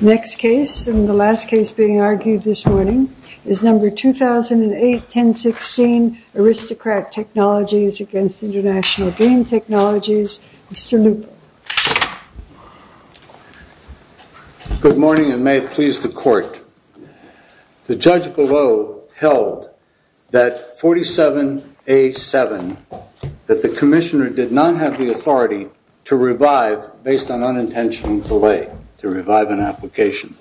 Next case and the last case being argued this morning is number 2008-1016 Aristocrat Technologies against International Game Technologies, Mr. Lupo. Good morning and may it please the court. The judge below held that 47A7 that the Commissioner did not have the authority to revive based on unintentional delay. to revive an application.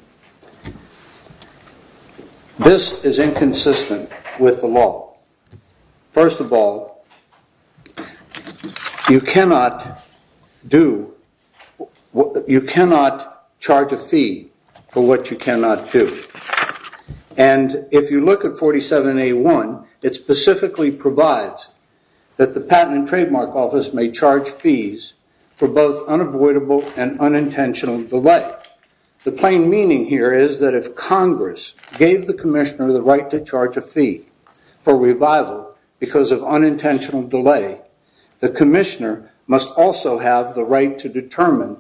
This is inconsistent with the law. First of all you cannot do what you cannot charge a fee for what you cannot do and if you look at 47A1 it specifically provides that the Patent and Trademark Office may charge fees for both unavoidable and the plain meaning here is that if Congress gave the Commissioner the right to charge a fee for revival because of unintentional delay the Commissioner must also have the right to determine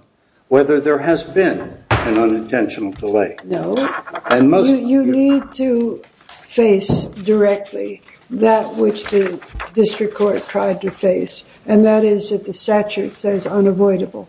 whether there has been an unintentional delay. You need to face directly that which the district court tried to face and that is that the statute says unavoidable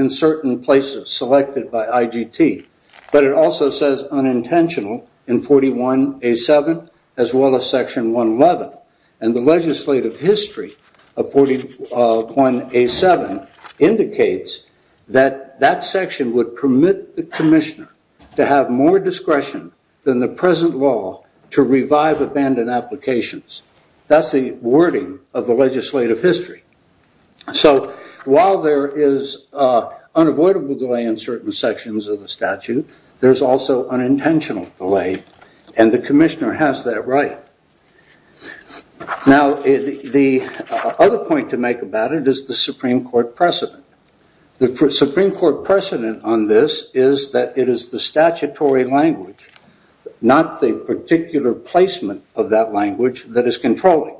in certain places selected by IGT, but it also says unintentional in 41A7 as well as section 111 and the legislative history of 41A7 indicates that that section would permit the Commissioner to have more discretion than the present law to revive abandoned applications. That's the wording of the legislative history. So while there is unavoidable delay in certain sections of the statute, there's also unintentional delay and the Commissioner has that right. Now the other point to make about it is the Supreme Court precedent. The Supreme Court precedent on this is that it is the statutory language not the particular placement of that language that is controlling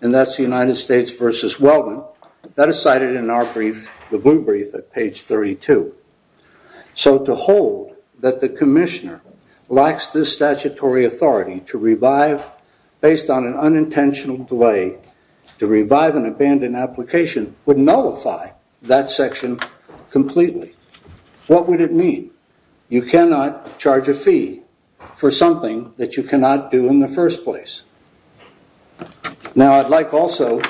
and that's the United States versus Wellman. That is cited in our brief, the blue brief at page 32. So to hold that the Commissioner lacks this statutory authority to revive based on an unintentional delay to revive an abandoned application would nullify that section completely. What would it mean? You cannot charge a fee for something that you cannot do in the first place. Now I'd like also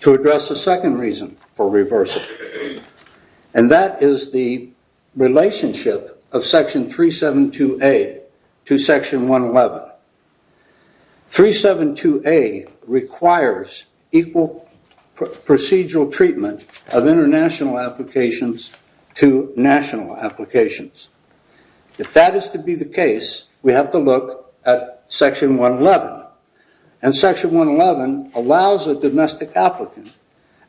to address the second reason for reversal and that is the relationship of section 372A to section 111. 372A requires equal procedural treatment of international applications to national applications. If that is to be the case, we have to look at section 111 and section 111 allows a domestic applicant,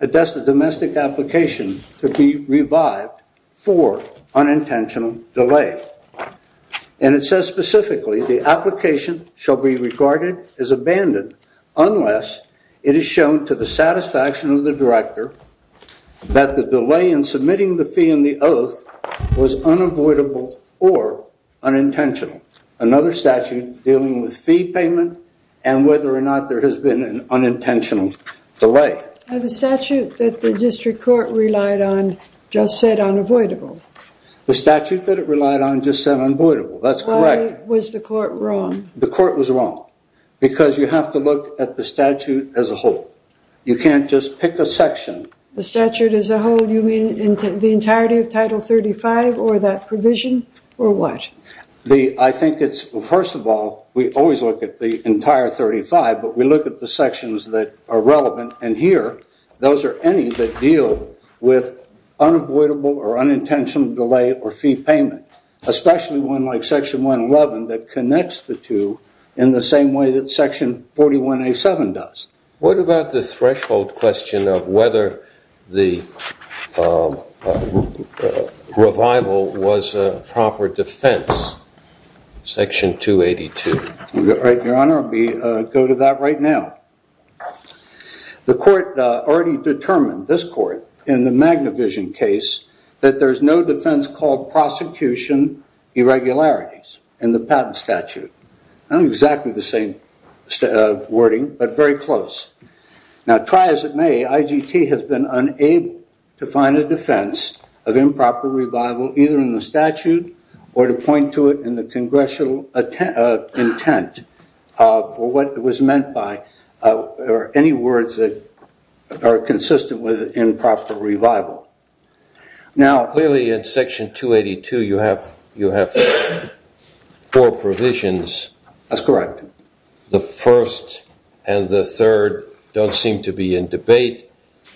a domestic application, to be revived for unintentional delay and it says specifically the application shall be regarded as abandoned unless it is shown to the satisfaction of the director that the delay in submitting the fee in the oath was unavoidable or unintentional. Another statute dealing with fee payment and whether or not there has been an unintentional delay. The statute that the district court relied on just said unavoidable. The statute that it relied on just said unavoidable. That's correct. Why was the court wrong? The court was wrong because you have to look at the statute as a whole. You can't just pick a section. The statute as a whole, you mean into the entirety of title 35 or that provision or what? I think it's first of all, we always look at the entire 35 but we look at the sections that are relevant and here those are any that deal with unavoidable or unintentional delay or fee payment, especially one like section 111 that connects the two in the same way that section 41A7 does. What about the threshold question of whether the revival was a proper defense? Section 282. Your honor, we go to that right now. The court already determined, this court, in the Magna Vision case that there's no defense called prosecution irregularities in the patent statute. I don't think it's exactly the same wording but very close. Now try as it may, IGT has been unable to find a defense of improper revival either in the statute or to point to it in the congressional intent for what it was meant by or any words that are consistent with improper revival. Now clearly in section 282 you have you have four provisions. That's correct. The first and the third don't seem to be in debate.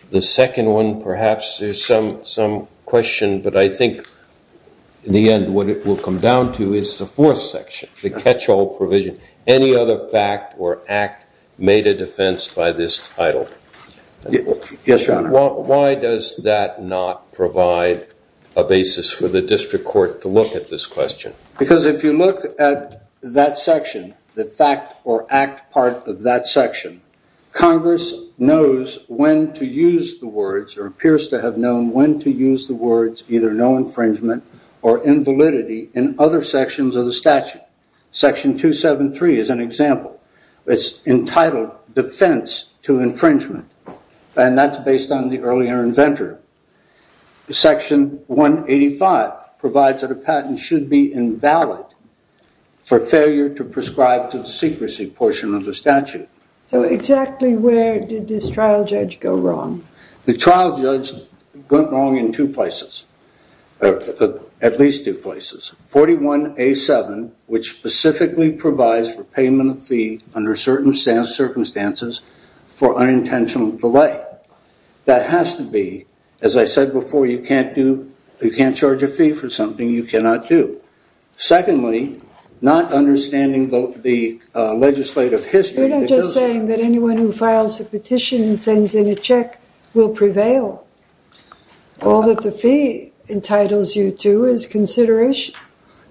The second one perhaps there's some some question, but I think in the end what it will come down to is the fourth section, the catch-all provision. Any other fact or act made a defense by this title? Yes, your honor. Well, why does that not provide a basis for the district court to look at this question? Because if you look at that section, the fact or act part of that section, Congress knows when to use the words or appears to have known when to use the words either no infringement or invalidity in other sections of the statute. Section 273 is an example. It's entitled defense to infringement and that's based on the earlier inventor. Section 185 provides that a patent should be invalid for failure to prescribe to the secrecy portion of the statute. So exactly where did this trial judge go wrong? The trial judge went wrong in two places, at least two places. 41A7, which specifically provides for payment of fee under certain circumstances for unintentional delay. That has to be, as I said before, you can't do, you can't charge a fee for something you cannot do. Secondly, not understanding the legislative history. We're not just saying that anyone who files a petition and sends in a check will prevail. All that the fee entitles you to is consideration.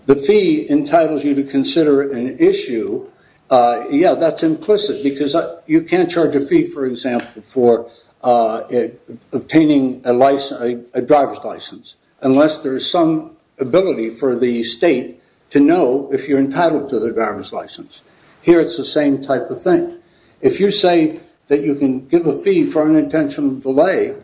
The fee entitles you to consider an issue. Yeah, that's implicit because you can't charge a fee, for example, for obtaining a license, a driver's license, unless there's some ability for the state to know if you're entitled to the driver's license. Here it's the same type of thing. If you say that you can give a fee for unintentional delay,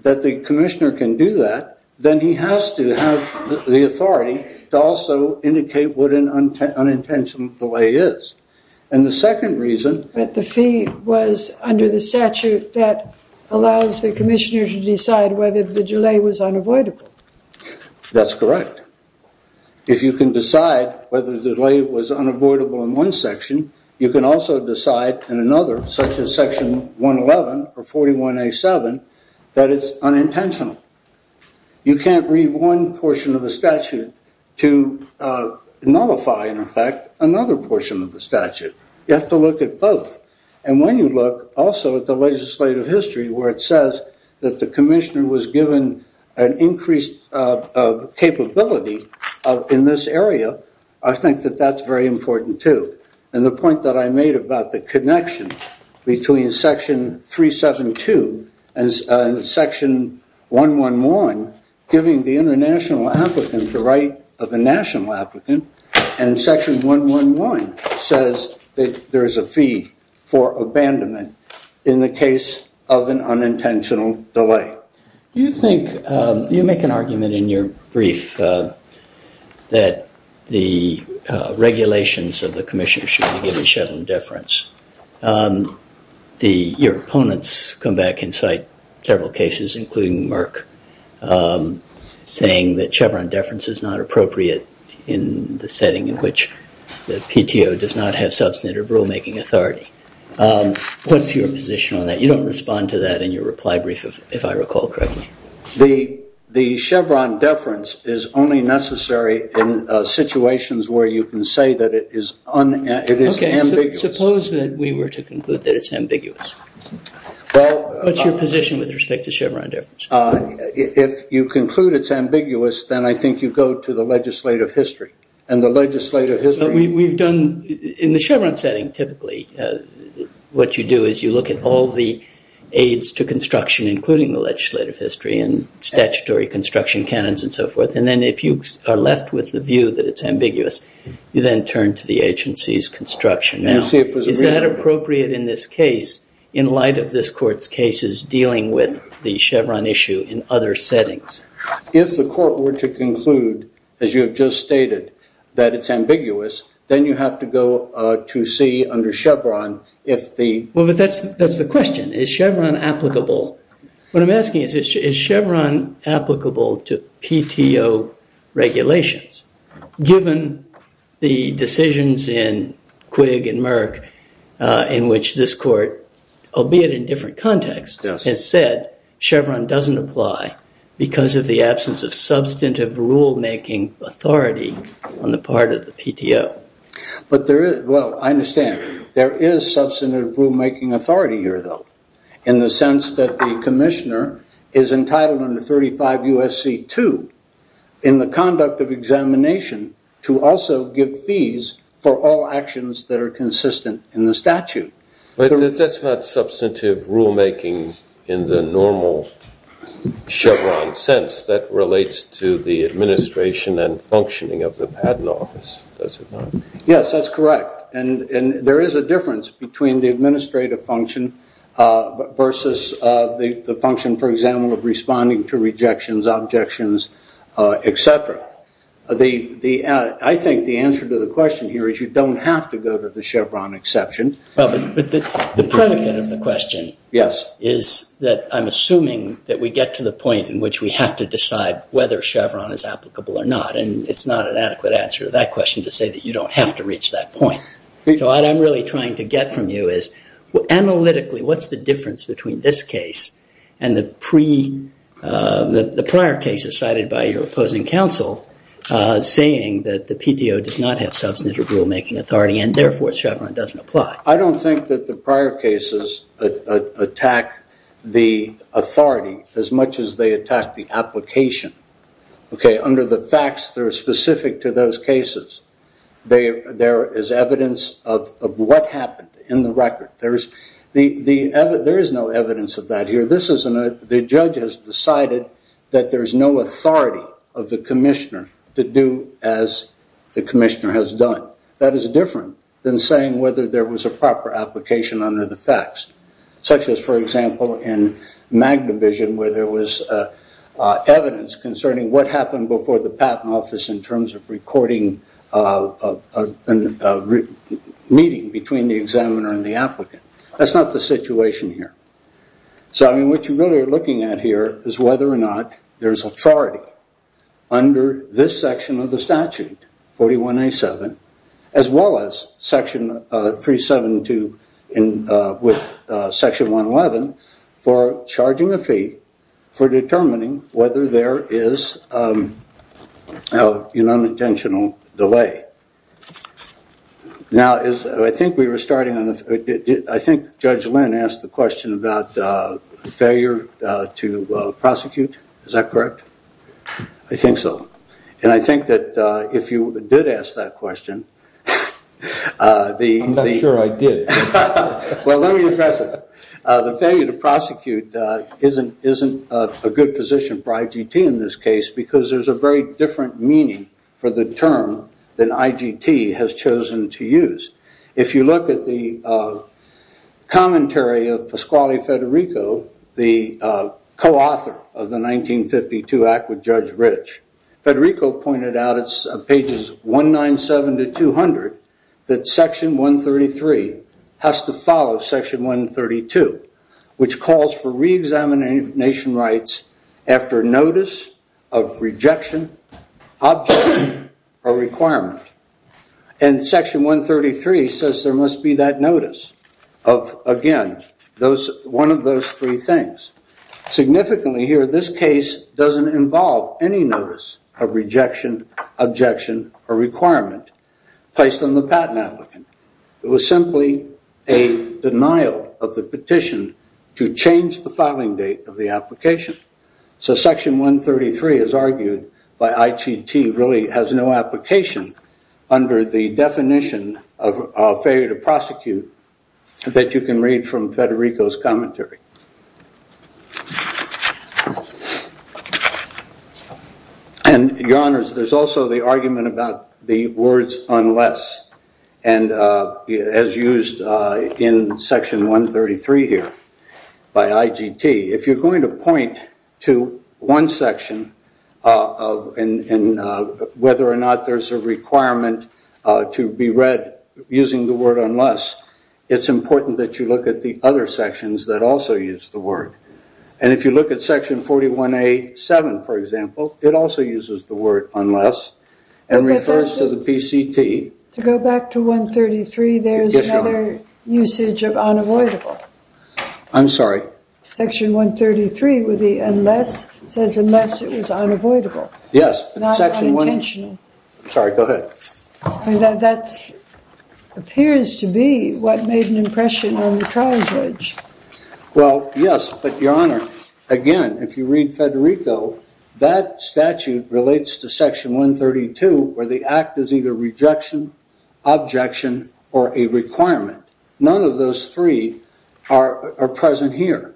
that the commissioner can do that, then he has to have the authority to also indicate what an unintentional delay is. And the second reason that the fee was under the statute that allows the commissioner to decide whether the delay was unavoidable. That's correct. If you can decide whether the delay was unavoidable in one section, you can also decide in another, such as section 111 or 41A7, that it's unintentional. You can't read one portion of the statute to nullify, in effect, another portion of the statute. You have to look at both. And when you look also at the legislative history where it says that the commissioner was given an increased capability in this area, I think that that's very important, too. And the point that I made about the connection between section 372 and section 111, giving the international applicant the right of a national applicant, and section 111 says that there is a fee for abandonment in the case of an unintentional delay. Do you think, do you make an argument in your brief that the regulations of the commission should be given shed some deference? Your opponents come back and cite several cases, including Merck, saying that Chevron deference is not appropriate in the setting in which the PTO does not have substantive rulemaking authority. What's your position on that? You don't respond to that in your reply brief, if I recall correctly. The Chevron deference is only necessary in the case where you can say that it is unambiguous. Suppose that we were to conclude that it's ambiguous. Well, what's your position with respect to Chevron deference? If you conclude it's ambiguous, then I think you go to the legislative history. In the Chevron setting, typically, what you do is you look at all the aides to construction, including the legislative history and statutory construction canons and so forth. And then if you are left with the view that it's ambiguous, you then turn to the agency's construction. Now, is that appropriate in this case, in light of this court's cases dealing with the Chevron issue in other settings? If the court were to conclude, as you have just stated, that it's ambiguous, then you have to go to see under Chevron if the... Well, but that's that's the question. Is Chevron applicable? What I'm asking is, is Chevron applicable to PTO regulations, given the decisions in Quigg and Merck, in which this court, albeit in different contexts, has said Chevron doesn't apply because of the absence of substantive rulemaking authority on the part of the PTO. But there is... Well, I understand. There is substantive rulemaking authority here, though, in the sense that the PTO has the determination to also give fees for all actions that are consistent in the statute. But that's not substantive rulemaking in the normal Chevron sense that relates to the administration and functioning of the patent office, does it not? Yes, that's correct. And there is a difference between the administrative function versus the function, for example, of responding to rejections, objections, etc. The... I think the answer to the question here is you don't have to go to the Chevron exception. Well, but the predicate of the question is that I'm assuming that we get to the point in which we have to decide whether Chevron is applicable or not, and it's not an adequate answer to that question to say that you don't have to reach that point. So what I'm really trying to get from you is, analytically, what's the difference between this case and the pre... the prior cases cited by your opposing counsel saying that the PTO does not have substantive rulemaking authority and therefore Chevron doesn't apply? I don't think that the prior cases attack the authority as much as they attack the application. Okay, under the facts that are specific to those cases, there is evidence of what happened in the record. There is no evidence of that here. This is... the judge has decided that there's no authority of the commissioner to do as the commissioner has done. That is different than saying whether there was a proper application under the facts, such as, for example, in MagnaVision where there was evidence concerning what happened before the Patent Office in terms of recording a meeting between the examiner and the applicant. That's not the situation here. So, I mean, what you really are looking at here is whether or not there's authority under this section of the statute, 41A7, as well as section 372 in... with section 111 for charging a fee for determining whether there is an unintentional delay. Now, I think we were starting on the... I think Judge Lynn asked the question about failure to prosecute. Is that correct? I think so. And I think that if you did ask that question, the... I'm not sure I did. Well, let me address it. The failure to prosecute isn't a good position for IGT in this case because there's a very different meaning for the term that IGT has chosen to use. If you look at the commentary of Pasquale Federico, the co-author of the 1952 Act with Judge Rich, Federico pointed out it's pages 197 to 200 that section 133 has to follow section 132, which calls for re-examination rights after notice of rejection, objection, or requirement. And section 133 says there must be that notice of, again, those... one of those three things. Significantly here, this case doesn't involve any notice of rejection, objection, or requirement placed on the patent applicant. It was simply a petition to change the filing date of the application. So section 133, as argued by IGT, really has no application under the definition of failure to prosecute that you can read from Federico's commentary. And your honors, there's also the argument about the words unless and as used in section 133 here by IGT. If you're going to point to one section and whether or not there's a requirement to be read using the word unless, it's important that you look at the other sections that also use the word. And if you look at section 41A.7, for example, it also uses the word unless and refers to the PCT. To go back to section 133, there's another usage of unavoidable. I'm sorry. Section 133, with the unless, says unless it was unavoidable. Yes. Not unintentional. Sorry, go ahead. That appears to be what made an impression on the trial judge. Well, yes, but your honor, again, if you read Federico, that statute relates to section 132, where the act is either rejection, objection, or a requirement. None of those three are present here.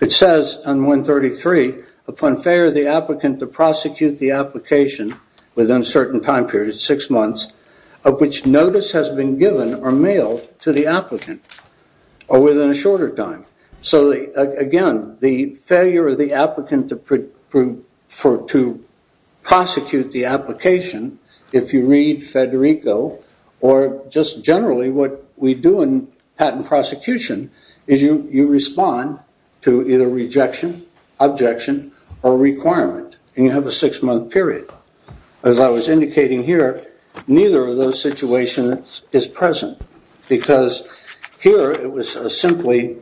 It says on 133, upon failure of the applicant to prosecute the application within a certain time period, six months, of which notice has been given or mailed to the applicant, or within a shorter time. So, again, the failure of the applicant to prosecute the application, if you read Federico, or just generally what we do in patent prosecution, is you respond to either rejection, objection, or requirement, and you have a six-month period. As I was indicating here, neither of those situations is present, because here it was simply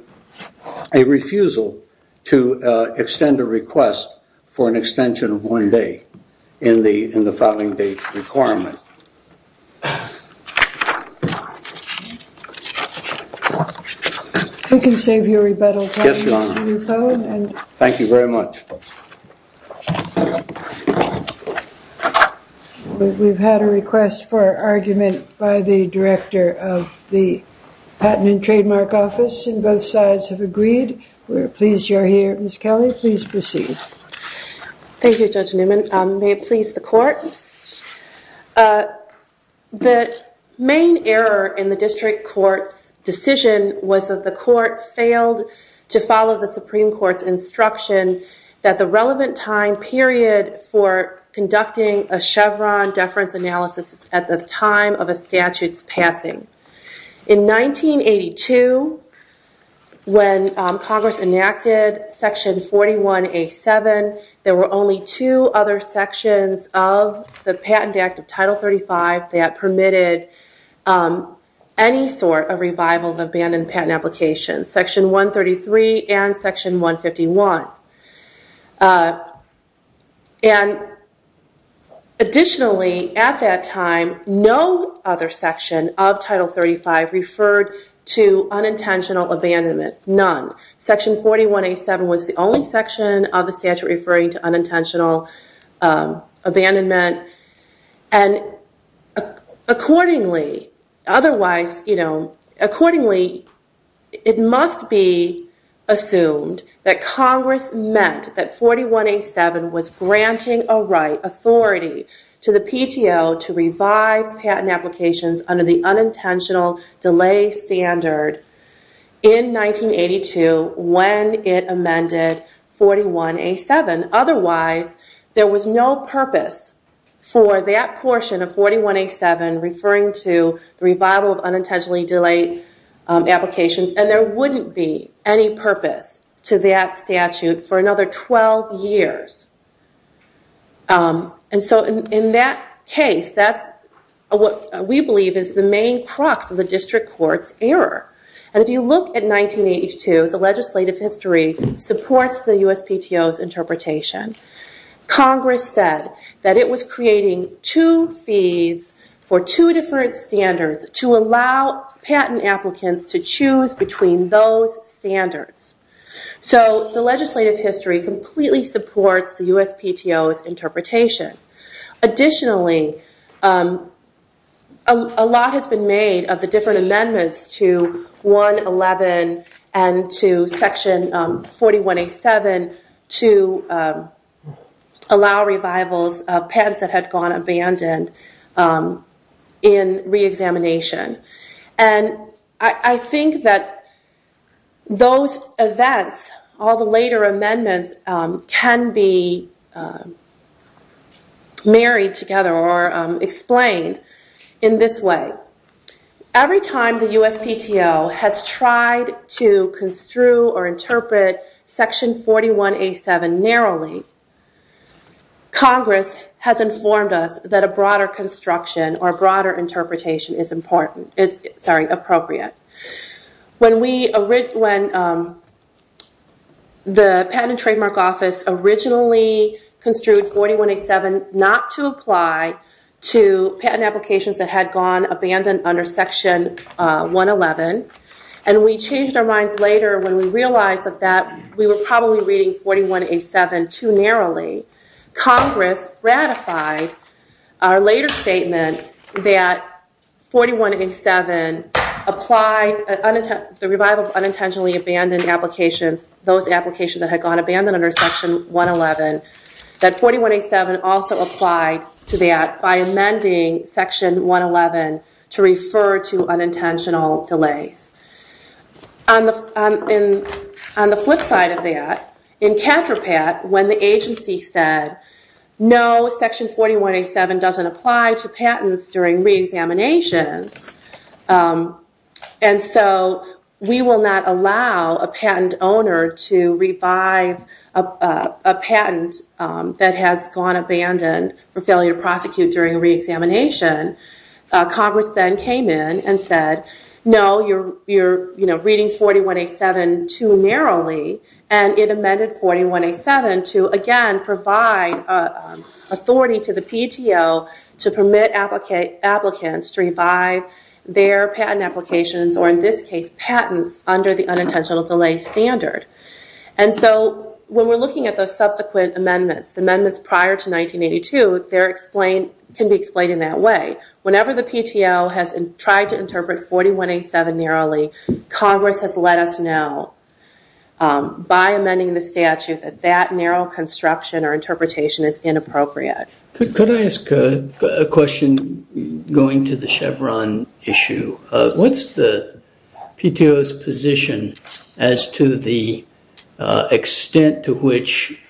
a refusal to provide an extension of one day in the filing date requirement. We can save your rebuttal time. Yes, your honor. Thank you very much. We've had a request for argument by the director of the Patent and Trademark Office, and both sides have agreed. We're pleased you're here. Ms. Kelly, please proceed. Thank you, Judge Newman. May it please the court? The main error in the district court's decision was that the court failed to follow the Supreme Court's instruction that the relevant time period for conducting a Chevron deference analysis at the time of a statute's passing. In 1982, when Congress enacted Section 41A-7, there were only two other sections of the Patent Act of Title 35 that permitted any sort of revival of abandoned patent applications, Section 133 and Section 151. And additionally, at that time, no other section of Title 35 referred to 41A-7 was the only section of the statute referring to unintentional abandonment. Accordingly, otherwise, you know, accordingly, it must be assumed that Congress meant that 41A-7 was granting a right, authority, to the PTO to revive patent applications under the unintentional delay standard in 1982 when it amended 41A-7. Otherwise, there was no purpose for that portion of 41A-7 referring to the revival of unintentionally delayed applications, and there wouldn't be any purpose to that statute for another 12 years. And so in that case, that's what we believe is the main crux of the district court's error. And if you look at 1982, the legislative history supports the USPTO's interpretation. Congress said that it was creating two fees for two different standards to allow patent applicants to choose between those standards. So the legislative history completely supports the USPTO's interpretation. Additionally, a lot has been made of the different amendments to 1-11 and to section 41A-7 to allow revivals of patents that had gone abandoned in re-examination. And I think that those events, all the later amendments, can be married together or explained in this way. Every time the USPTO has tried to construe or interpret section 41A-7 narrowly, Congress has informed us that a broader construction or broader interpretation is important, is, sorry, appropriate. When we, when the Patent and Trademark Office originally construed 41A-7 not to apply to patent applications that had gone abandoned under section 1-11, and we changed our minds later when we realized that that we were probably reading 41A-7 too narrowly, Congress ratified our later statement that 41A-7 applied, the revival of unintentionally abandoned applications, those applications that had gone abandoned under section 1-11, that 41A-7 also applied to that by amending section 1-11 to refer to unintentional delays. On the flip side of that, in CATRAPAT, when the agency said no, section 41A-7 doesn't apply to patents during re-examinations, and so we will not allow a patent owner to revive a patent that has gone abandoned for failure to prosecute during re-examination, Congress then came in and said no, you're, you know, reading 41A-7 too narrowly, and it amended 41A-7 to, again, provide authority to the PTO to permit applicants to revive their patent applications, or in this case, patents under the unintentional delay standard. And so when we're looking at those subsequent amendments, the amendments prior to 1982, they're explained, can be explained in that way. Whenever the PTO has tried to interpret 41A-7 narrowly, Congress has let us know by amending the statute that that narrow construction or interpretation is inappropriate. Could I ask a question going to the Chevron issue? What's the PTO's position as to the extent to which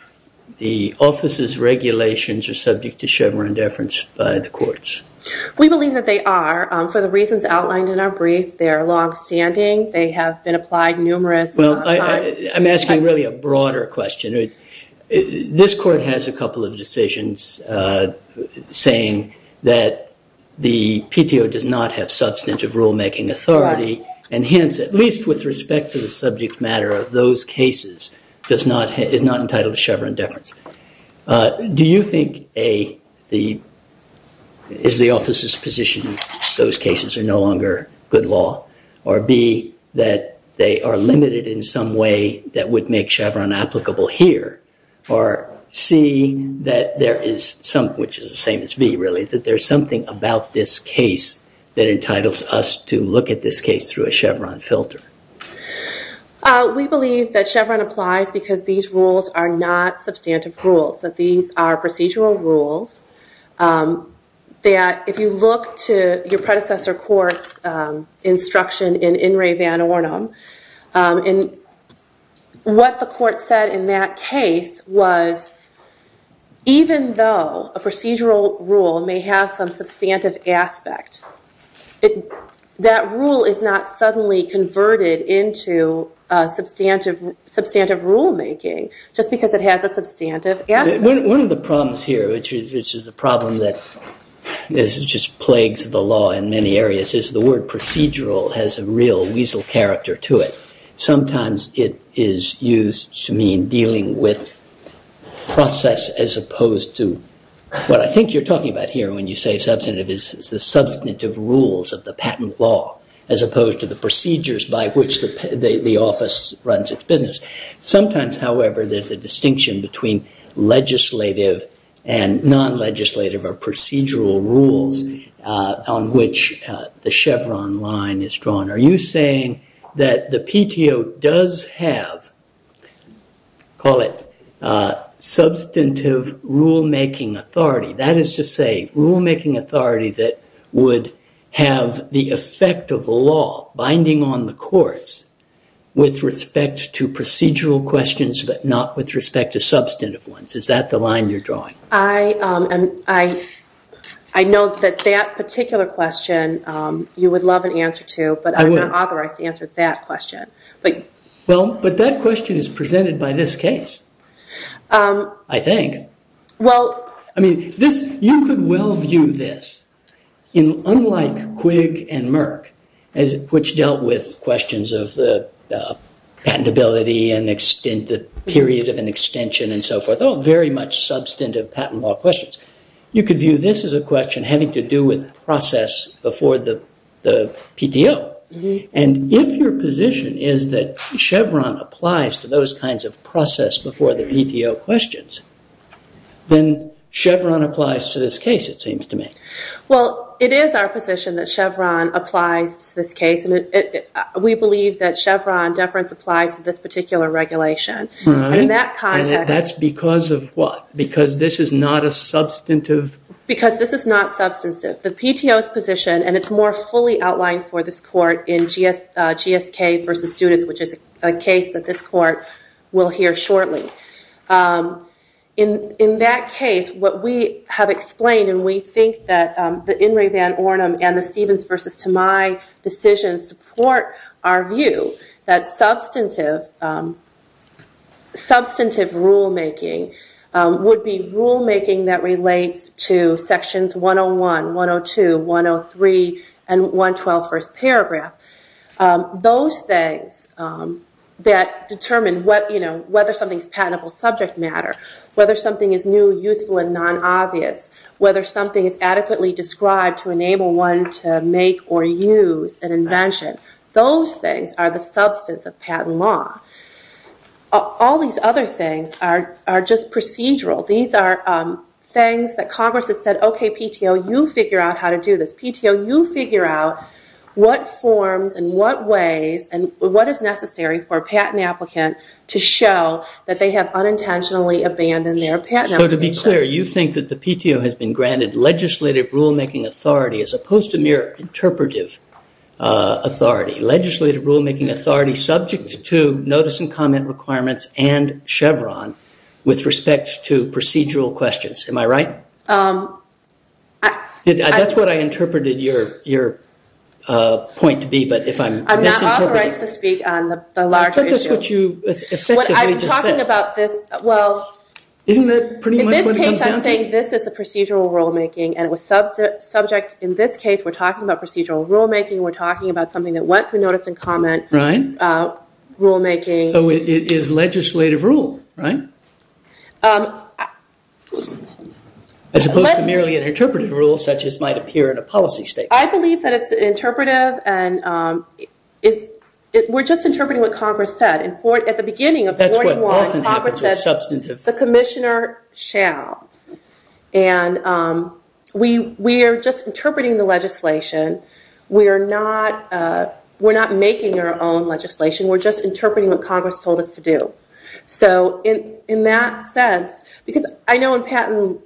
the office's regulations are subject to Chevron deference by the courts? We believe that they are. For the reasons outlined in our brief, they are long-standing. They have been applied numerous times. Well, I'm asking really a broader question. This court has a couple of decisions saying that the PTO does not have substantive rulemaking authority, and hence, at least with respect to the subject matter of those cases, does not, is not entitled to Chevron deference. Do you think, A, the is the office's position those cases are no longer good law, or B, that they are limited in some way that would make Chevron applicable here, or C, that there is some, which is the same as B, really, that there's something about this case that entitles us to look at this case through a Chevron filter? We believe that Chevron applies because these rules are not substantive rules, that these are procedural rules. That if you look to your predecessor court's instruction in In re van Ornum, and what the court said in that case was, even though a procedural rule may have some substantive aspect, it, that rule is not suddenly converted into substantive, substantive rulemaking just because it has a substantive aspect. One of the problems here, which is a problem that this just plagues the law in many areas, is the word procedural has a real weasel character to it. Sometimes it is used to mean dealing with process as opposed to what I think you're talking about here when you say substantive is the substantive rules of the patent law, as opposed to the procedures by which the office runs its business. Sometimes, however, there's a distinction between legislative and non-legislative or procedural rules on which the Chevron line is drawn. Are you saying that the PTO does have, call it, substantive rulemaking authority, that is to say rulemaking authority that would have the effect of law binding on the courts with respect to procedural questions, but not with respect to substantive ones. Is that the line you're drawing? I, I, I know that that particular question you would love an answer to, but I'm not authorized to answer that question, but. Well, but that question is presented by this case. I think. Well. I mean this, you could well view this in unlike Quigg and Merck, as which dealt with questions of the patentability and extent, the period of an extension and so forth, all very much substantive patent law questions. You could view this as a question having to do with process before the, the PTO. And if your position is that Chevron applies to those kinds of process before the PTO questions, then Chevron applies to this case, it seems to me. Well, it is our position that Chevron applies to this case. And it, we believe that Chevron deference applies to this particular regulation. All right. In that context. That's because of what? Because this is not a substantive? Because this is not substantive. The PTO's position, and it's more fully outlined for this court in GSK versus students, which is a case that this court will hear shortly, in, in that case, what we have explained, and we think that the In re Van Ornum and the Stevens versus Tomei decisions support our view that substantive, substantive rulemaking would be rulemaking that relates to sections 101, 102, 103, and 112 first paragraph. Those things that determine what, you know, whether something's patentable subject matter, whether something is new, useful, and non-obvious, whether something is adequately described to enable one to make or use an invention. Those things are the substance of patent law. All these other things are, are just procedural. These are things that Congress has said, okay, PTO, you figure out how to do this. PTO, you figure out what forms and what ways and what is necessary for a patent applicant to show that they have unintentionally abandoned their patent application. So to be clear, you think that the PTO has been granted legislative rulemaking authority as opposed to mere interpretive authority, legislative rulemaking authority subject to notice and comment requirements and Chevron with respect to procedural questions, am I right? That's what I interpreted your, your point to be, but if I'm misinterpreting. I'm not authorized to speak on the larger issue. But that's what you effectively just said. What I'm talking about this, well. Isn't that pretty much what it comes down to? In this case, I'm saying this is a procedural rulemaking and it was subject, subject, in this case we're talking about procedural rulemaking. We're talking about something that went through notice and comment. Right. Rulemaking. So it is legislative rule, right? As opposed to merely an interpretive rule such as might appear in a policy statement. I believe that it's an interpretive and it, we're just interpreting what Congress said. At the beginning of 41, Congress said, the commissioner shall. And we, we are just interpreting the legislation. We are not, we're not making our own legislation. We're just interpreting what Congress told us to do. So in, in that sense, because I know in patent,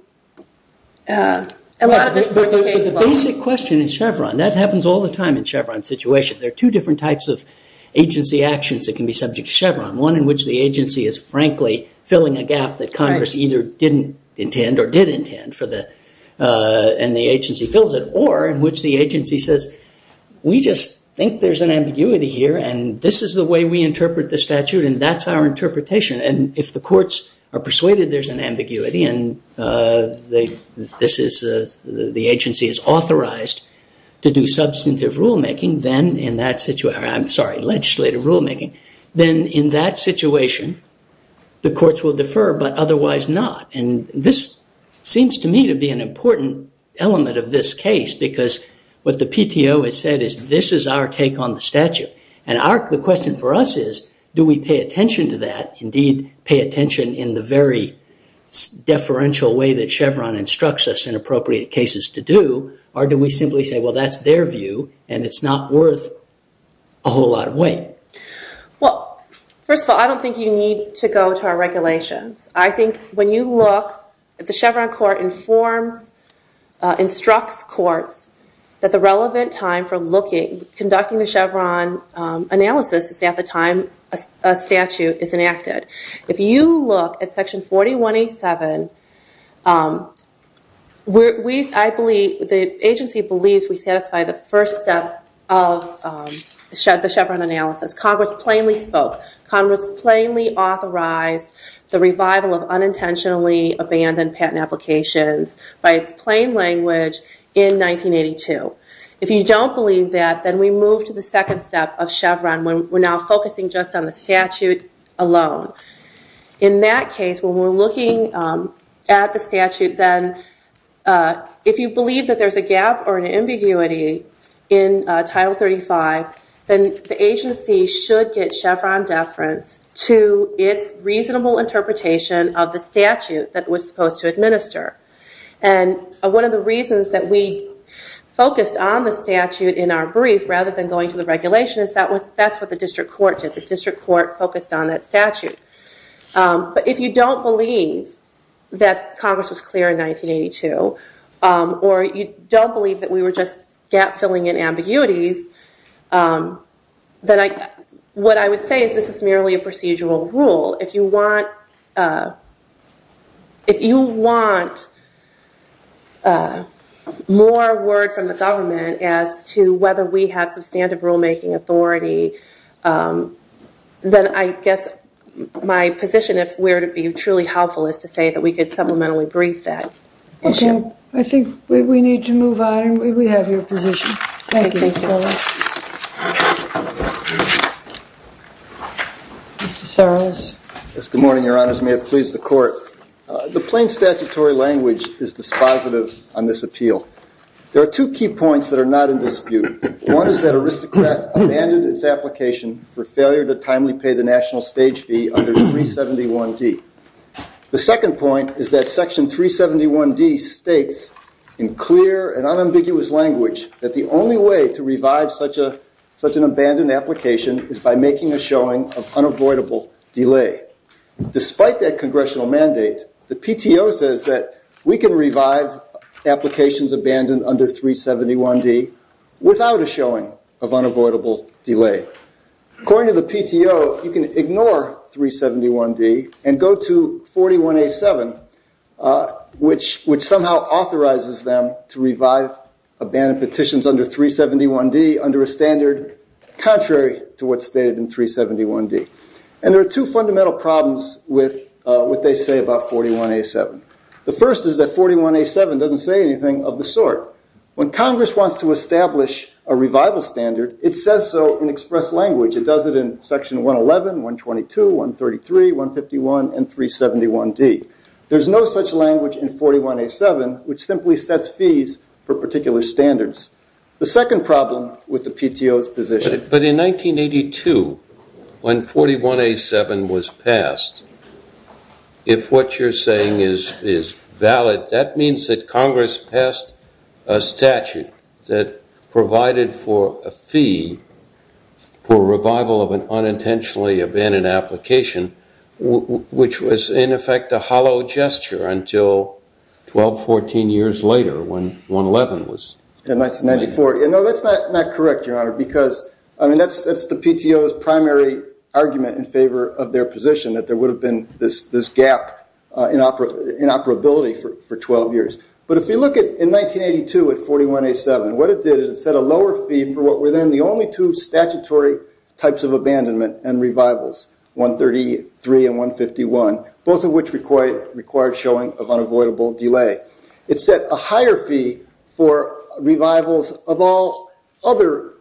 a lot of this. The basic question in Chevron, that happens all the time in Chevron situation. There are two different types of agency actions that can be subject to Chevron. One in which the agency is frankly filling a gap that Congress either didn't intend or did intend for the, and the agency fills it. Or in which the agency says, we just think there's an ambiguity here and this is the way we interpret the statute and that's our interpretation. And if the courts are persuaded there's an ambiguity and this is, the agency is authorized to do substantive rulemaking, then in that situation, I'm sorry, legislative rulemaking, then in that situation, the courts will defer, but otherwise not. And this seems to me to be an important element of this case because what the PTO has said is this is our take on the statute. And our, the question for us is, do we pay attention to that? Indeed, pay attention in the very deferential way that Chevron instructs us in appropriate cases to do, or do we simply say, well, that's their view and it's not worth a whole lot of weight. Well, first of all, I don't think you need to go to our regulations. I think when you look at the Chevron court informs, instructs courts that the relevant time for looking, conducting the Chevron analysis is at the time a section 4187. We, I believe, the agency believes we satisfy the first step of the Chevron analysis. Congress plainly spoke. Congress plainly authorized the revival of unintentionally abandoned patent applications by its plain language in 1982. If you don't believe that, then we move to the second step of Chevron when we're now focusing just on the statute alone. In that case, when we're looking at the statute, then if you believe that there's a gap or an ambiguity in Title 35, then the agency should get Chevron deference to its reasonable interpretation of the statute that was supposed to administer. And one of the reasons that we focused on the statute in our brief rather than going to the regulation is that was, that's what the district court did. The district court focused on that statute. But if you don't believe that Congress was clear in 1982 or you don't believe that we were just gap-filling in ambiguities, then I, what I would say is this is merely a procedural rule. If you want, if you want more word from the government as to whether we have substantive rulemaking authority, then I guess my position, if we're to be truly helpful, is to say that we could supplementally brief that. Okay, I think we need to move on and we have your position. Mr. Soros. Yes, good morning, your honors. May it please the court. The plain statutory language is dispositive on this appeal. There are two key points that are not in dispute. One is that Aristocrat abandoned its application for failure to timely pay the national stage fee under 371 D. The second point is that section 371 D states in clear and unambiguous language that the only way to revive such a, such an abandoned application is by making a showing of unavoidable delay. Despite that congressional mandate, the PTO says that we can revive applications abandoned under 371 D without a showing of unavoidable delay. According to the PTO, you can ignore 371 D and go to 41 A7, which, which somehow authorizes them to revive abandoned petitions under 371 D under a standard contrary to what's stated in 371 D. And there are two fundamental problems with what they say about 41 A7. The first is that 41 A7 doesn't say anything of the sort. When Congress wants to establish a revival standard, it says so in express language. It does it in section 111, 122, 133, 151, and 371 D. There's no such language in 41 A7, which simply sets fees for particular standards. The second problem with the PTO's position. But in 1982, when 41 A7 was passed, if what you're saying is, is valid, that means that Congress passed a statute that provided for a fee for revival of an unintentionally abandoned application, which was in effect a hollow gesture until 12, 14 years later when 111 was. In 1994. You know, that's not, not correct, Your Honor, because, I mean, that's the PTO's primary argument in favor of their position, that there would have been this gap in operability for 12 years. But if you look at, in 1982 at 41 A7, what it did, it set a lower fee for what were then the only two statutory types of abandonment and revivals, 133 and 151, both of which required showing of unavoidable delay. It set a higher fee for revivals of all other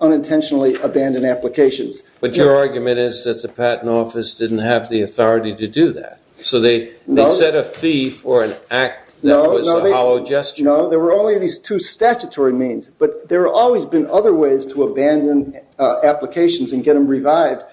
unintentionally abandoned applications. But your argument is that the Patent Office didn't have the authority to do that. So they set a fee for an act that was a hollow gesture. No, there were only these two statutory means, but there have always been other ways to abandon applications and get them revived,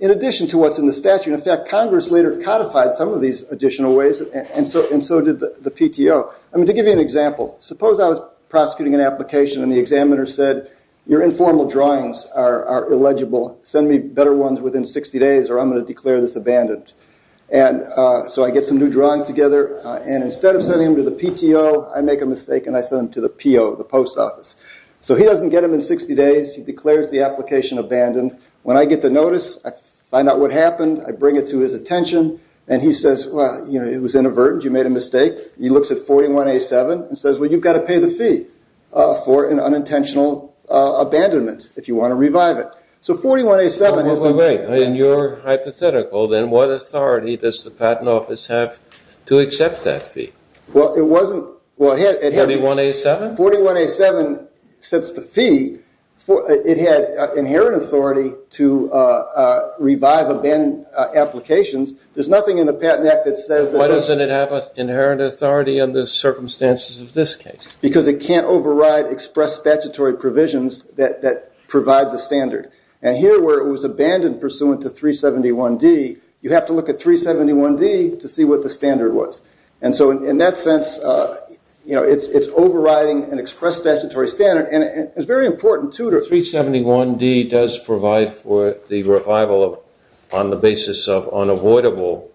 in addition to what's in the statute. In fact, Congress later codified some of these additional ways, and so did the PTO. I mean, to give you an example, suppose I was prosecuting an application and the examiner said, your informal drawings are illegible, send me better ones within 60 days or I'm going to declare this abandoned. So I get some new drawings together, and instead of sending them to the PTO, I make a mistake and I send them to the PO, the post office. So he doesn't get them in 60 days, he declares the application abandoned. When I get the notice, I find out what happened, I bring it to his attention, and he says, well, you know, it was inadvertent, you made a mistake. He looks at 41A7 and says, well, you've got to pay the fee for an unintentional abandonment if you want to revive it. So 41A7 has been paid. Wait, wait, wait, in your hypothetical, then what authority does the Patent Office have to accept that fee? Well, it wasn't, well, it had... 41A7? 41A7 sets the fee for, it had inherent authority to revive abandoned applications. There's nothing in the Patent Act that says... Why doesn't it have an inherent authority on the circumstances of this case? Because it can't override express statutory provisions that provide the standard. And here where it was abandoned pursuant to 371D, you have to look at 371D to see what the standard was. And so in that sense, you know, it's overriding an express statutory standard, and it's very important to... So 371D does provide for the revival of, on the basis of unavoidable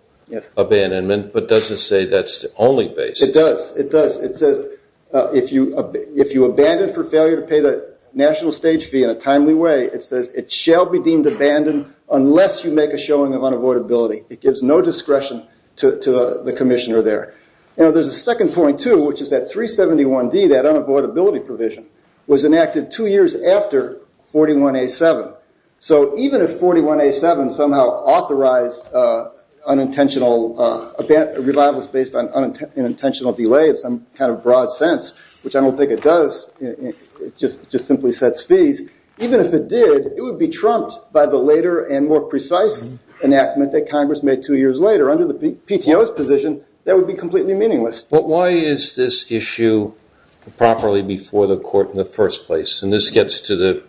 abandonment, but doesn't say that's the only basis. It does, it does. It says if you abandon for failure to pay the national stage fee in a timely way, it says it shall be deemed abandoned unless you make a showing of unavoidability. It gives no discretion to the Commissioner there. You know, there's a second point too, which is that 371D, that unavoidability provision, was enacted two years after 41A7. So even if 41A7 somehow authorized unintentional... Revival is based on unintentional delay in some kind of broad sense, which I don't think it does. It just simply sets fees. Even if it did, it would be trumped by the later and more precise enactment that Congress made two years later under the PTO's position that would be completely meaningless. But why is this issue properly before the court in the first place? And this gets to the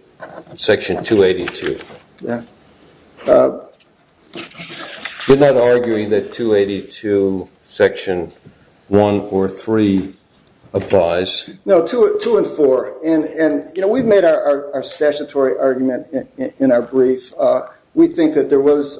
Section 282. You're not arguing that 282 Section 1 or 3 applies? No, 2 and 4. And, you know, we've made our statutory argument in our brief. We think that there was,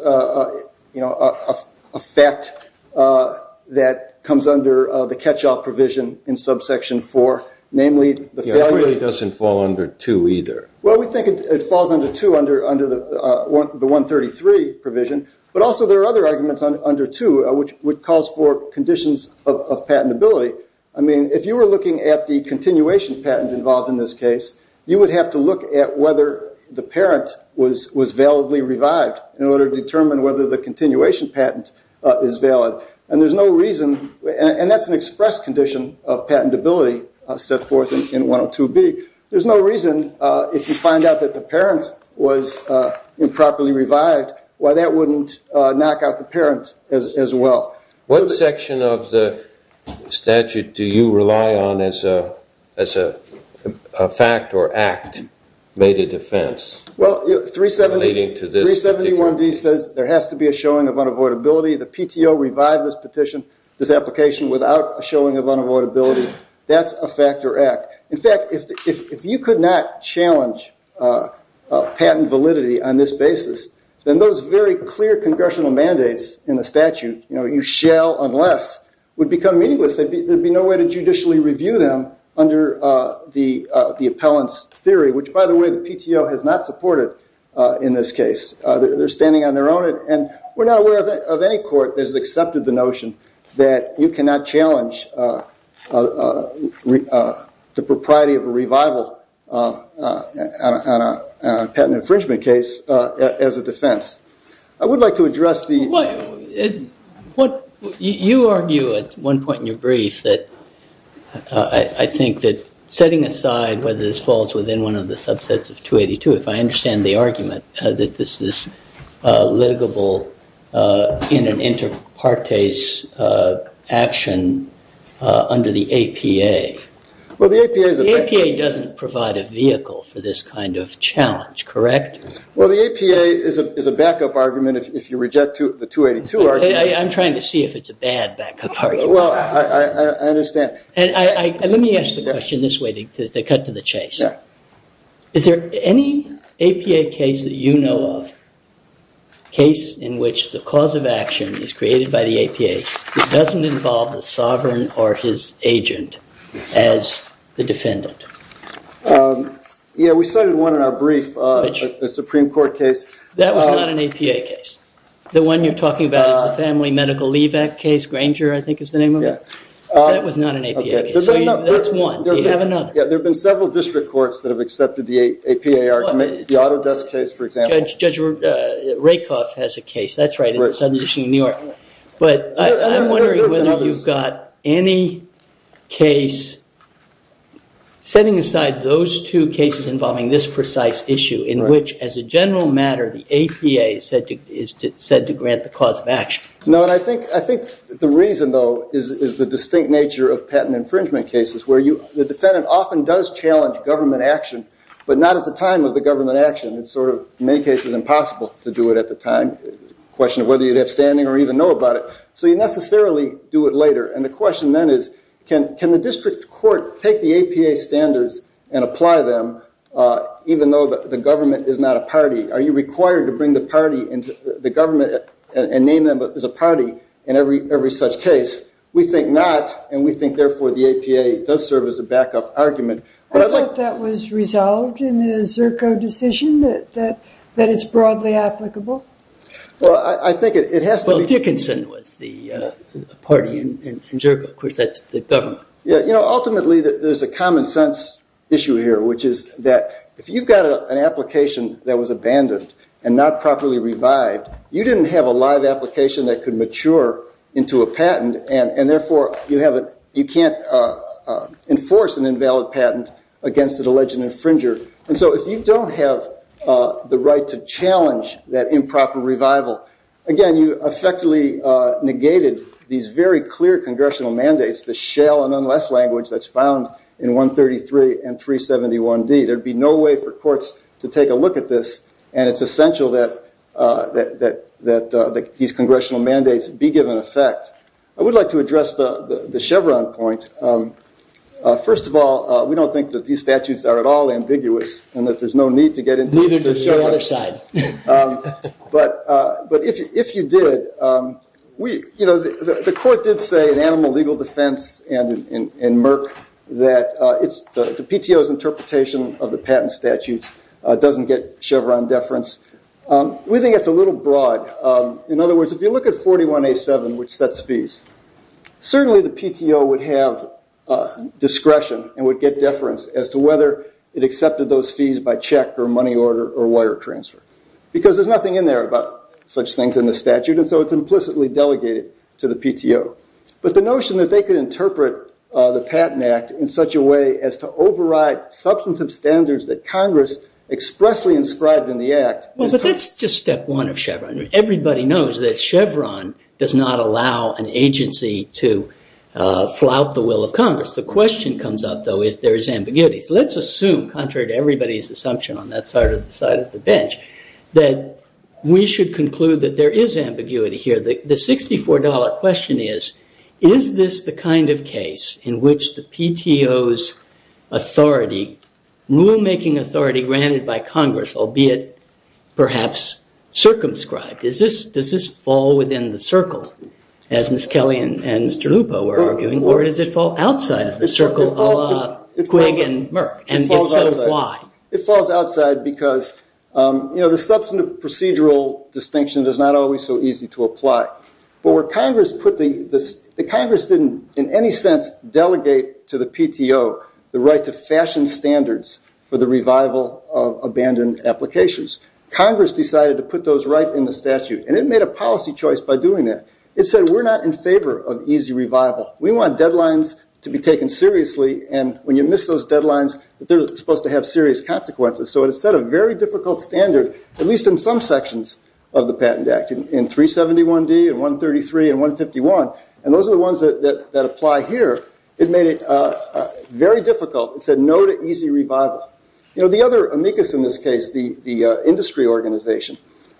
you know, a fact that comes under the catch-all provision in Subsection 4, namely the... It really doesn't fall under 2 either. Well, we think it falls under 2 under the 133 provision, but also there are other arguments under 2, which calls for conditions of patentability. I mean, if you were looking at the continuation patent involved in this case, you would have to look at whether the parent was validly revived in order to determine whether the continuation patent is valid. And there's no reason... And that's an express condition of patentability set forth in 102B. There's no reason, if you find out that the parent was improperly revived, why that wouldn't knock out the parent as well. What section of the statute do you rely on as a fact or act made a defense? Well, 371D says there has to be a showing of unavoidability. The PTO revived this petition, this application, without a showing of unavoidability. That's a fact or act. In fact, if you could not challenge patent validity on this basis, then those very clear congressional mandates in the statute, you know, you shall unless, would become meaningless. There'd be no way to judicially review them under the appellant's theory, which, by the way, the PTO has not supported in this case. They're standing on their own, and we're not aware of any court that has accepted the notion that you cannot challenge the propriety of a revival on a patent infringement case as a defense. I would like to address the... You argue at one point in your brief that I think that setting aside whether this falls within one of the subsets of 282, if I understand the argument that this is litigable in an inter partes action under the APA. Well, the APA... The APA doesn't provide a vehicle for this kind of challenge, correct? Well, the APA is a backup argument if you reject the 282 argument. I'm trying to see if it's a bad backup argument. Well, I understand. And let me ask the question this way because they cut to the chase. Is there any APA case that you know of, case in which the cause of action is created by the APA that doesn't involve the sovereign or his agent as the defendant? Yeah, we cited one in our brief, a Supreme Court case. That was not an APA case. The one you're talking about is the Family Medical Leave Act case. Granger, I think is the name of it? Yeah. That was not an APA case. There have been several district courts that have accepted the APA argument. The Autodesk case, for example. Judge Rakoff has a case, that's right, in the Southern District of New York. But I'm wondering whether you've got any case setting aside those two cases involving this precise issue in which, as a general matter, the APA is said to grant the cause of action. No, and I think the reason, though, is the distinct nature of patent infringement cases where the defendant often does challenge government action, but not at the time of the government action. It's sort of, in many cases, impossible to do it at the time. Question of whether you'd have standing or even know about it. So you necessarily do it later. And the question then is, can the district court take the APA standards and apply them, even though the government is not a party? Are you required to bring the party and the government and name them as a party in every such case? We think not, and we think therefore the APA does serve as a backup argument. I thought that was resolved in the Zerko decision, that it's broadly applicable. Well, I think it has to be. Well, Dickinson was the party in Zerko. Of course, that's the government. Yeah, you know, ultimately there's a common-sense issue here, which is that if you've got an application that was abandoned and not properly revived, you didn't have a live application that could mature into a patent, and therefore you can't enforce an invalid patent against an alleged infringer. And so if you don't have the right to challenge that improper revival, again, you effectively negated these very clear congressional mandates, the shale and unless language that's found in 133 and 371d. There'd be no way for courts to take a look at this, and it's essential that these congressional mandates be given effect. I would like to address the Chevron point. First of all, we don't think that these statutes are at all ambiguous and that there's no need to get into the other side. But if you did, we, you know, the court did say in animal legal defense and in Merck that it's the PTO's interpretation of the patent statutes doesn't get Chevron deference. We think it's a little broad. In other words, if you look at 41A7, which sets fees, certainly the PTO would have discretion and would get deference as to whether it accepted those fees by check or money order or wire transfer. Because there's nothing in there about such things in the statute, and so it's implicitly delegated to the PTO. But the notion that they could interpret the Patent Act in such a way as to override substantive standards that Congress expressly inscribed in the Act... That's just step one of Chevron. Everybody knows that Chevron does not allow an agency to flout the will of Congress. The question comes up, though, if there is ambiguity. So let's assume, contrary to everybody's assumption on that side of the bench, that we should conclude that there is ambiguity here. The $64 question is, is this the kind of case in which the PTO's authority, rulemaking authority granted by Congress, albeit perhaps circumscribed, does this fall within the circle, as Ms. Kelly and Mr. Lupo were arguing, or does it fall outside of the circle, ala Quigg and Merck, and if so, why? It falls outside because, you know, the substantive procedural distinction is not always so easy to apply. But where Congress put the... Congress didn't in any sense delegate to the PTO the right to fashion standards for the revival of abandoned applications. Congress decided to put those right in the statute, and it made a policy choice by doing that. It said, we're not in favor of easy revival. We want deadlines to be taken seriously, and when you miss those deadlines, they're supposed to have serious consequences. So it set a very difficult standard, at least in some sections of the Patent Act, in 371D and 133 and 151, and those are the ones that apply here. It made it very difficult. It said no to easy revival. You know, the other amicus in this case, the industry organization,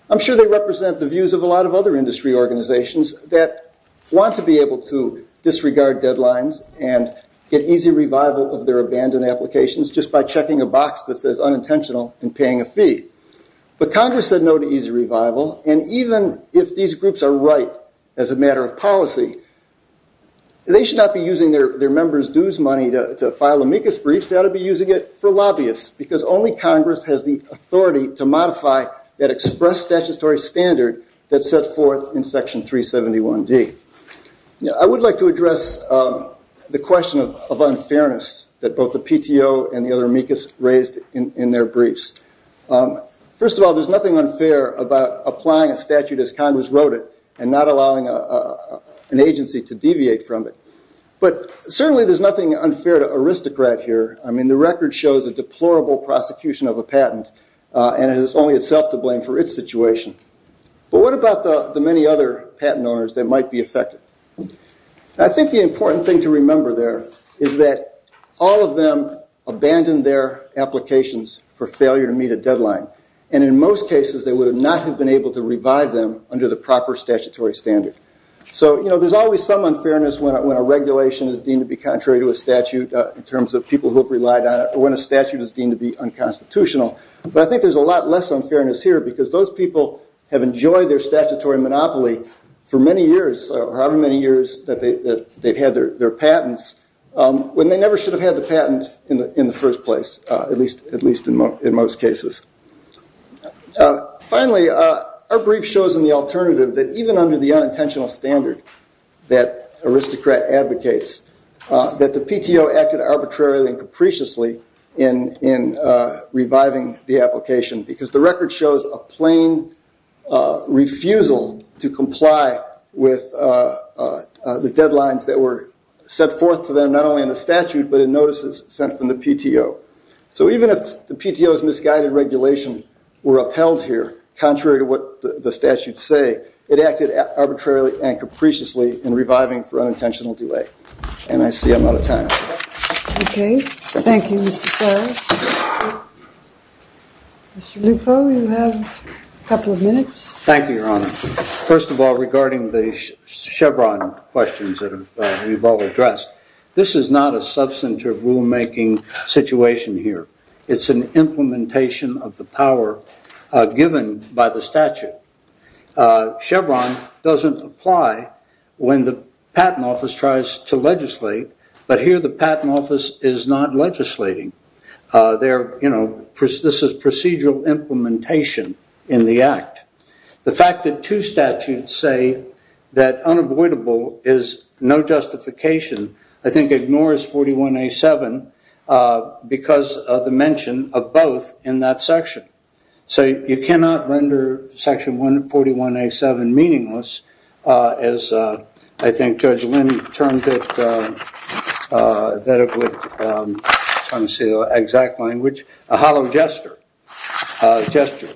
I'm sure they represent the views of a lot of other industry organizations that want to be able to disregard deadlines and get easy revival of their abandoned applications just by checking a box that says unintentional and paying a fee. But Congress said no to easy revival, and even if these groups are right as a matter of policy, they should not be using their members' dues money to file amicus briefs. They ought to be using it for lobbyists, because only Congress has the authority to modify that express statutory standard that's set forth in Section 371D. Now, I would like to address the question of unfairness that both the PTO and the other amicus raised in their briefs. First of all, there's nothing unfair about applying a statute as Congress wrote it and not allowing an agency to deviate from it, but certainly there's nothing unfair to aristocrat here. I mean, the record shows a deplorable prosecution of a patent, and it is only itself to blame for its situation. But what about the many other patent owners that might be affected? I think the important thing to remember there is that all of them abandoned their applications for failure to meet a deadline, and in most cases they would have not have been able to revive them under the proper statutory standard. So, you know, there's always some unfairness when a regulation is deemed to be contrary to a statute in terms of people who have relied on it, or when a statute is deemed to be unconstitutional. But I think there's a lot less unfairness here, because those people have enjoyed their statutory monopoly for many years, however many years, that they've had their patents, when they never should have had the patent in the first place, at least in most cases. Finally, our brief shows in the alternative that even under the unintentional standard that aristocrat advocates, that the PTO acted arbitrarily and capriciously in reviving the application, because the record shows a plain refusal to comply with the deadlines that were set forth to them, not only in the statute, but in notices sent from the PTO. So even if the PTO's misguided regulation were upheld here, contrary to what the statutes say, it acted arbitrarily and capriciously in reviving for unintentional delay. And I see I'm out of time. Okay, thank you, Mr. Sarris. Mr. Lupo, you have a couple of minutes. Thank you, Your Honor. First of all, regarding the Chevron questions that we've all addressed, this is not a substantive rulemaking situation here. It's an implementation of the power given by the statute. Chevron doesn't apply when the Patent Office tries to legislate, but here the Patent Office is not legislating. This is procedural implementation in the Act. The fact that two statutes say that unavoidable is no justification, I think ignores 41A7 because of the mention of both in that section. So you cannot render Section 141A7 meaningless as I think Judge Linney termed it, that it would, I'm trying to say the exact language, a hollow gesture. Gesture.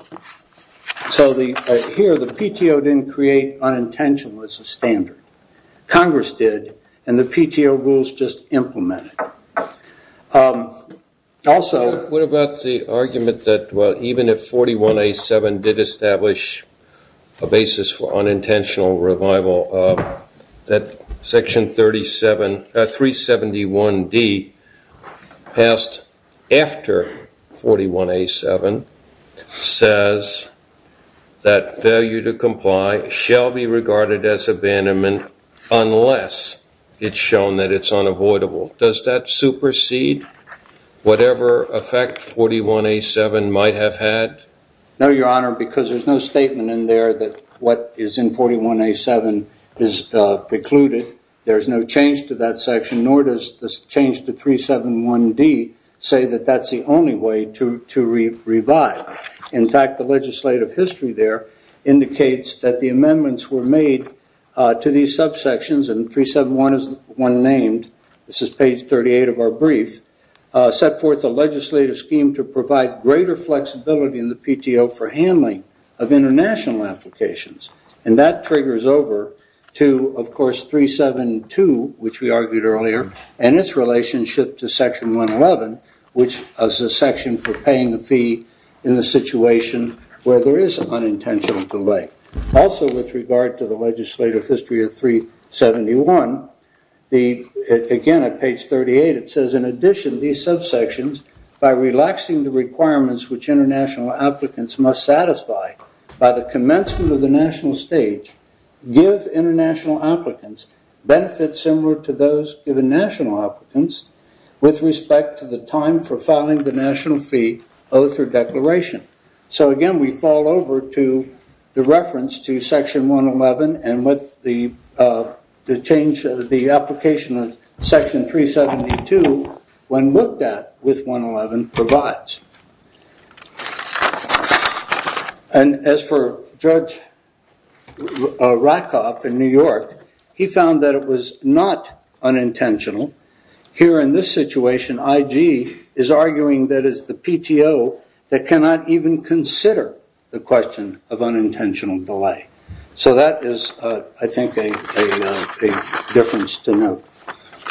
So here the PTO didn't create unintentional as a standard. Congress did and the PTO rules just implemented. Also, what about the argument that well, even if 41A7 did establish a basis for unintentional revival that Section 371D passed after 41A7 says that failure to comply shall be regarded as abandonment unless it's shown that it's unavoidable. Does that supersede whatever effect 41A7 might have had? No, Your Honor, because there's no statement in there that what is in 41A7 is precluded. There's no change to that section nor does this change to 371D say that that's the only way to revive. In fact, the legislative history there indicates that the amendments were made to these subsections and 371 is one named, this is page 38 of our brief, set forth a legislative scheme to provide greater flexibility in the PTO for handling of international applications and that triggers over to, of course, Section 372, which we argued earlier, and its relationship to Section 111, which is a section for paying a fee in the situation where there is an unintentional delay. Also, with regard to the legislative history of 371, again, at page 38, it says, in addition, these subsections, by relaxing the requirements which international applicants must satisfy by the commencement of the national stage, give international applicants benefits similar to those given national applicants with respect to the time for filing the national fee oath or declaration. So, again, we fall over to the reference to Section 111 and with the change of the application of Section 372, when looked at with 111, provides. And as for Judge Rakoff in New York, he found that it was not unintentional. Here in this situation, IG is arguing that it's the PTO that cannot even consider the question of unintentional delay. So that is, I think, a difference to note.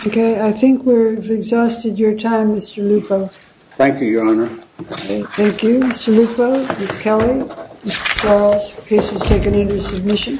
Okay, I think we've exhausted your time, Mr. Lupo. Thank you, Your Honor. Thank you, Mr. Lupo, Ms. Kelly, Mr. Sarles, the case is taken into submission.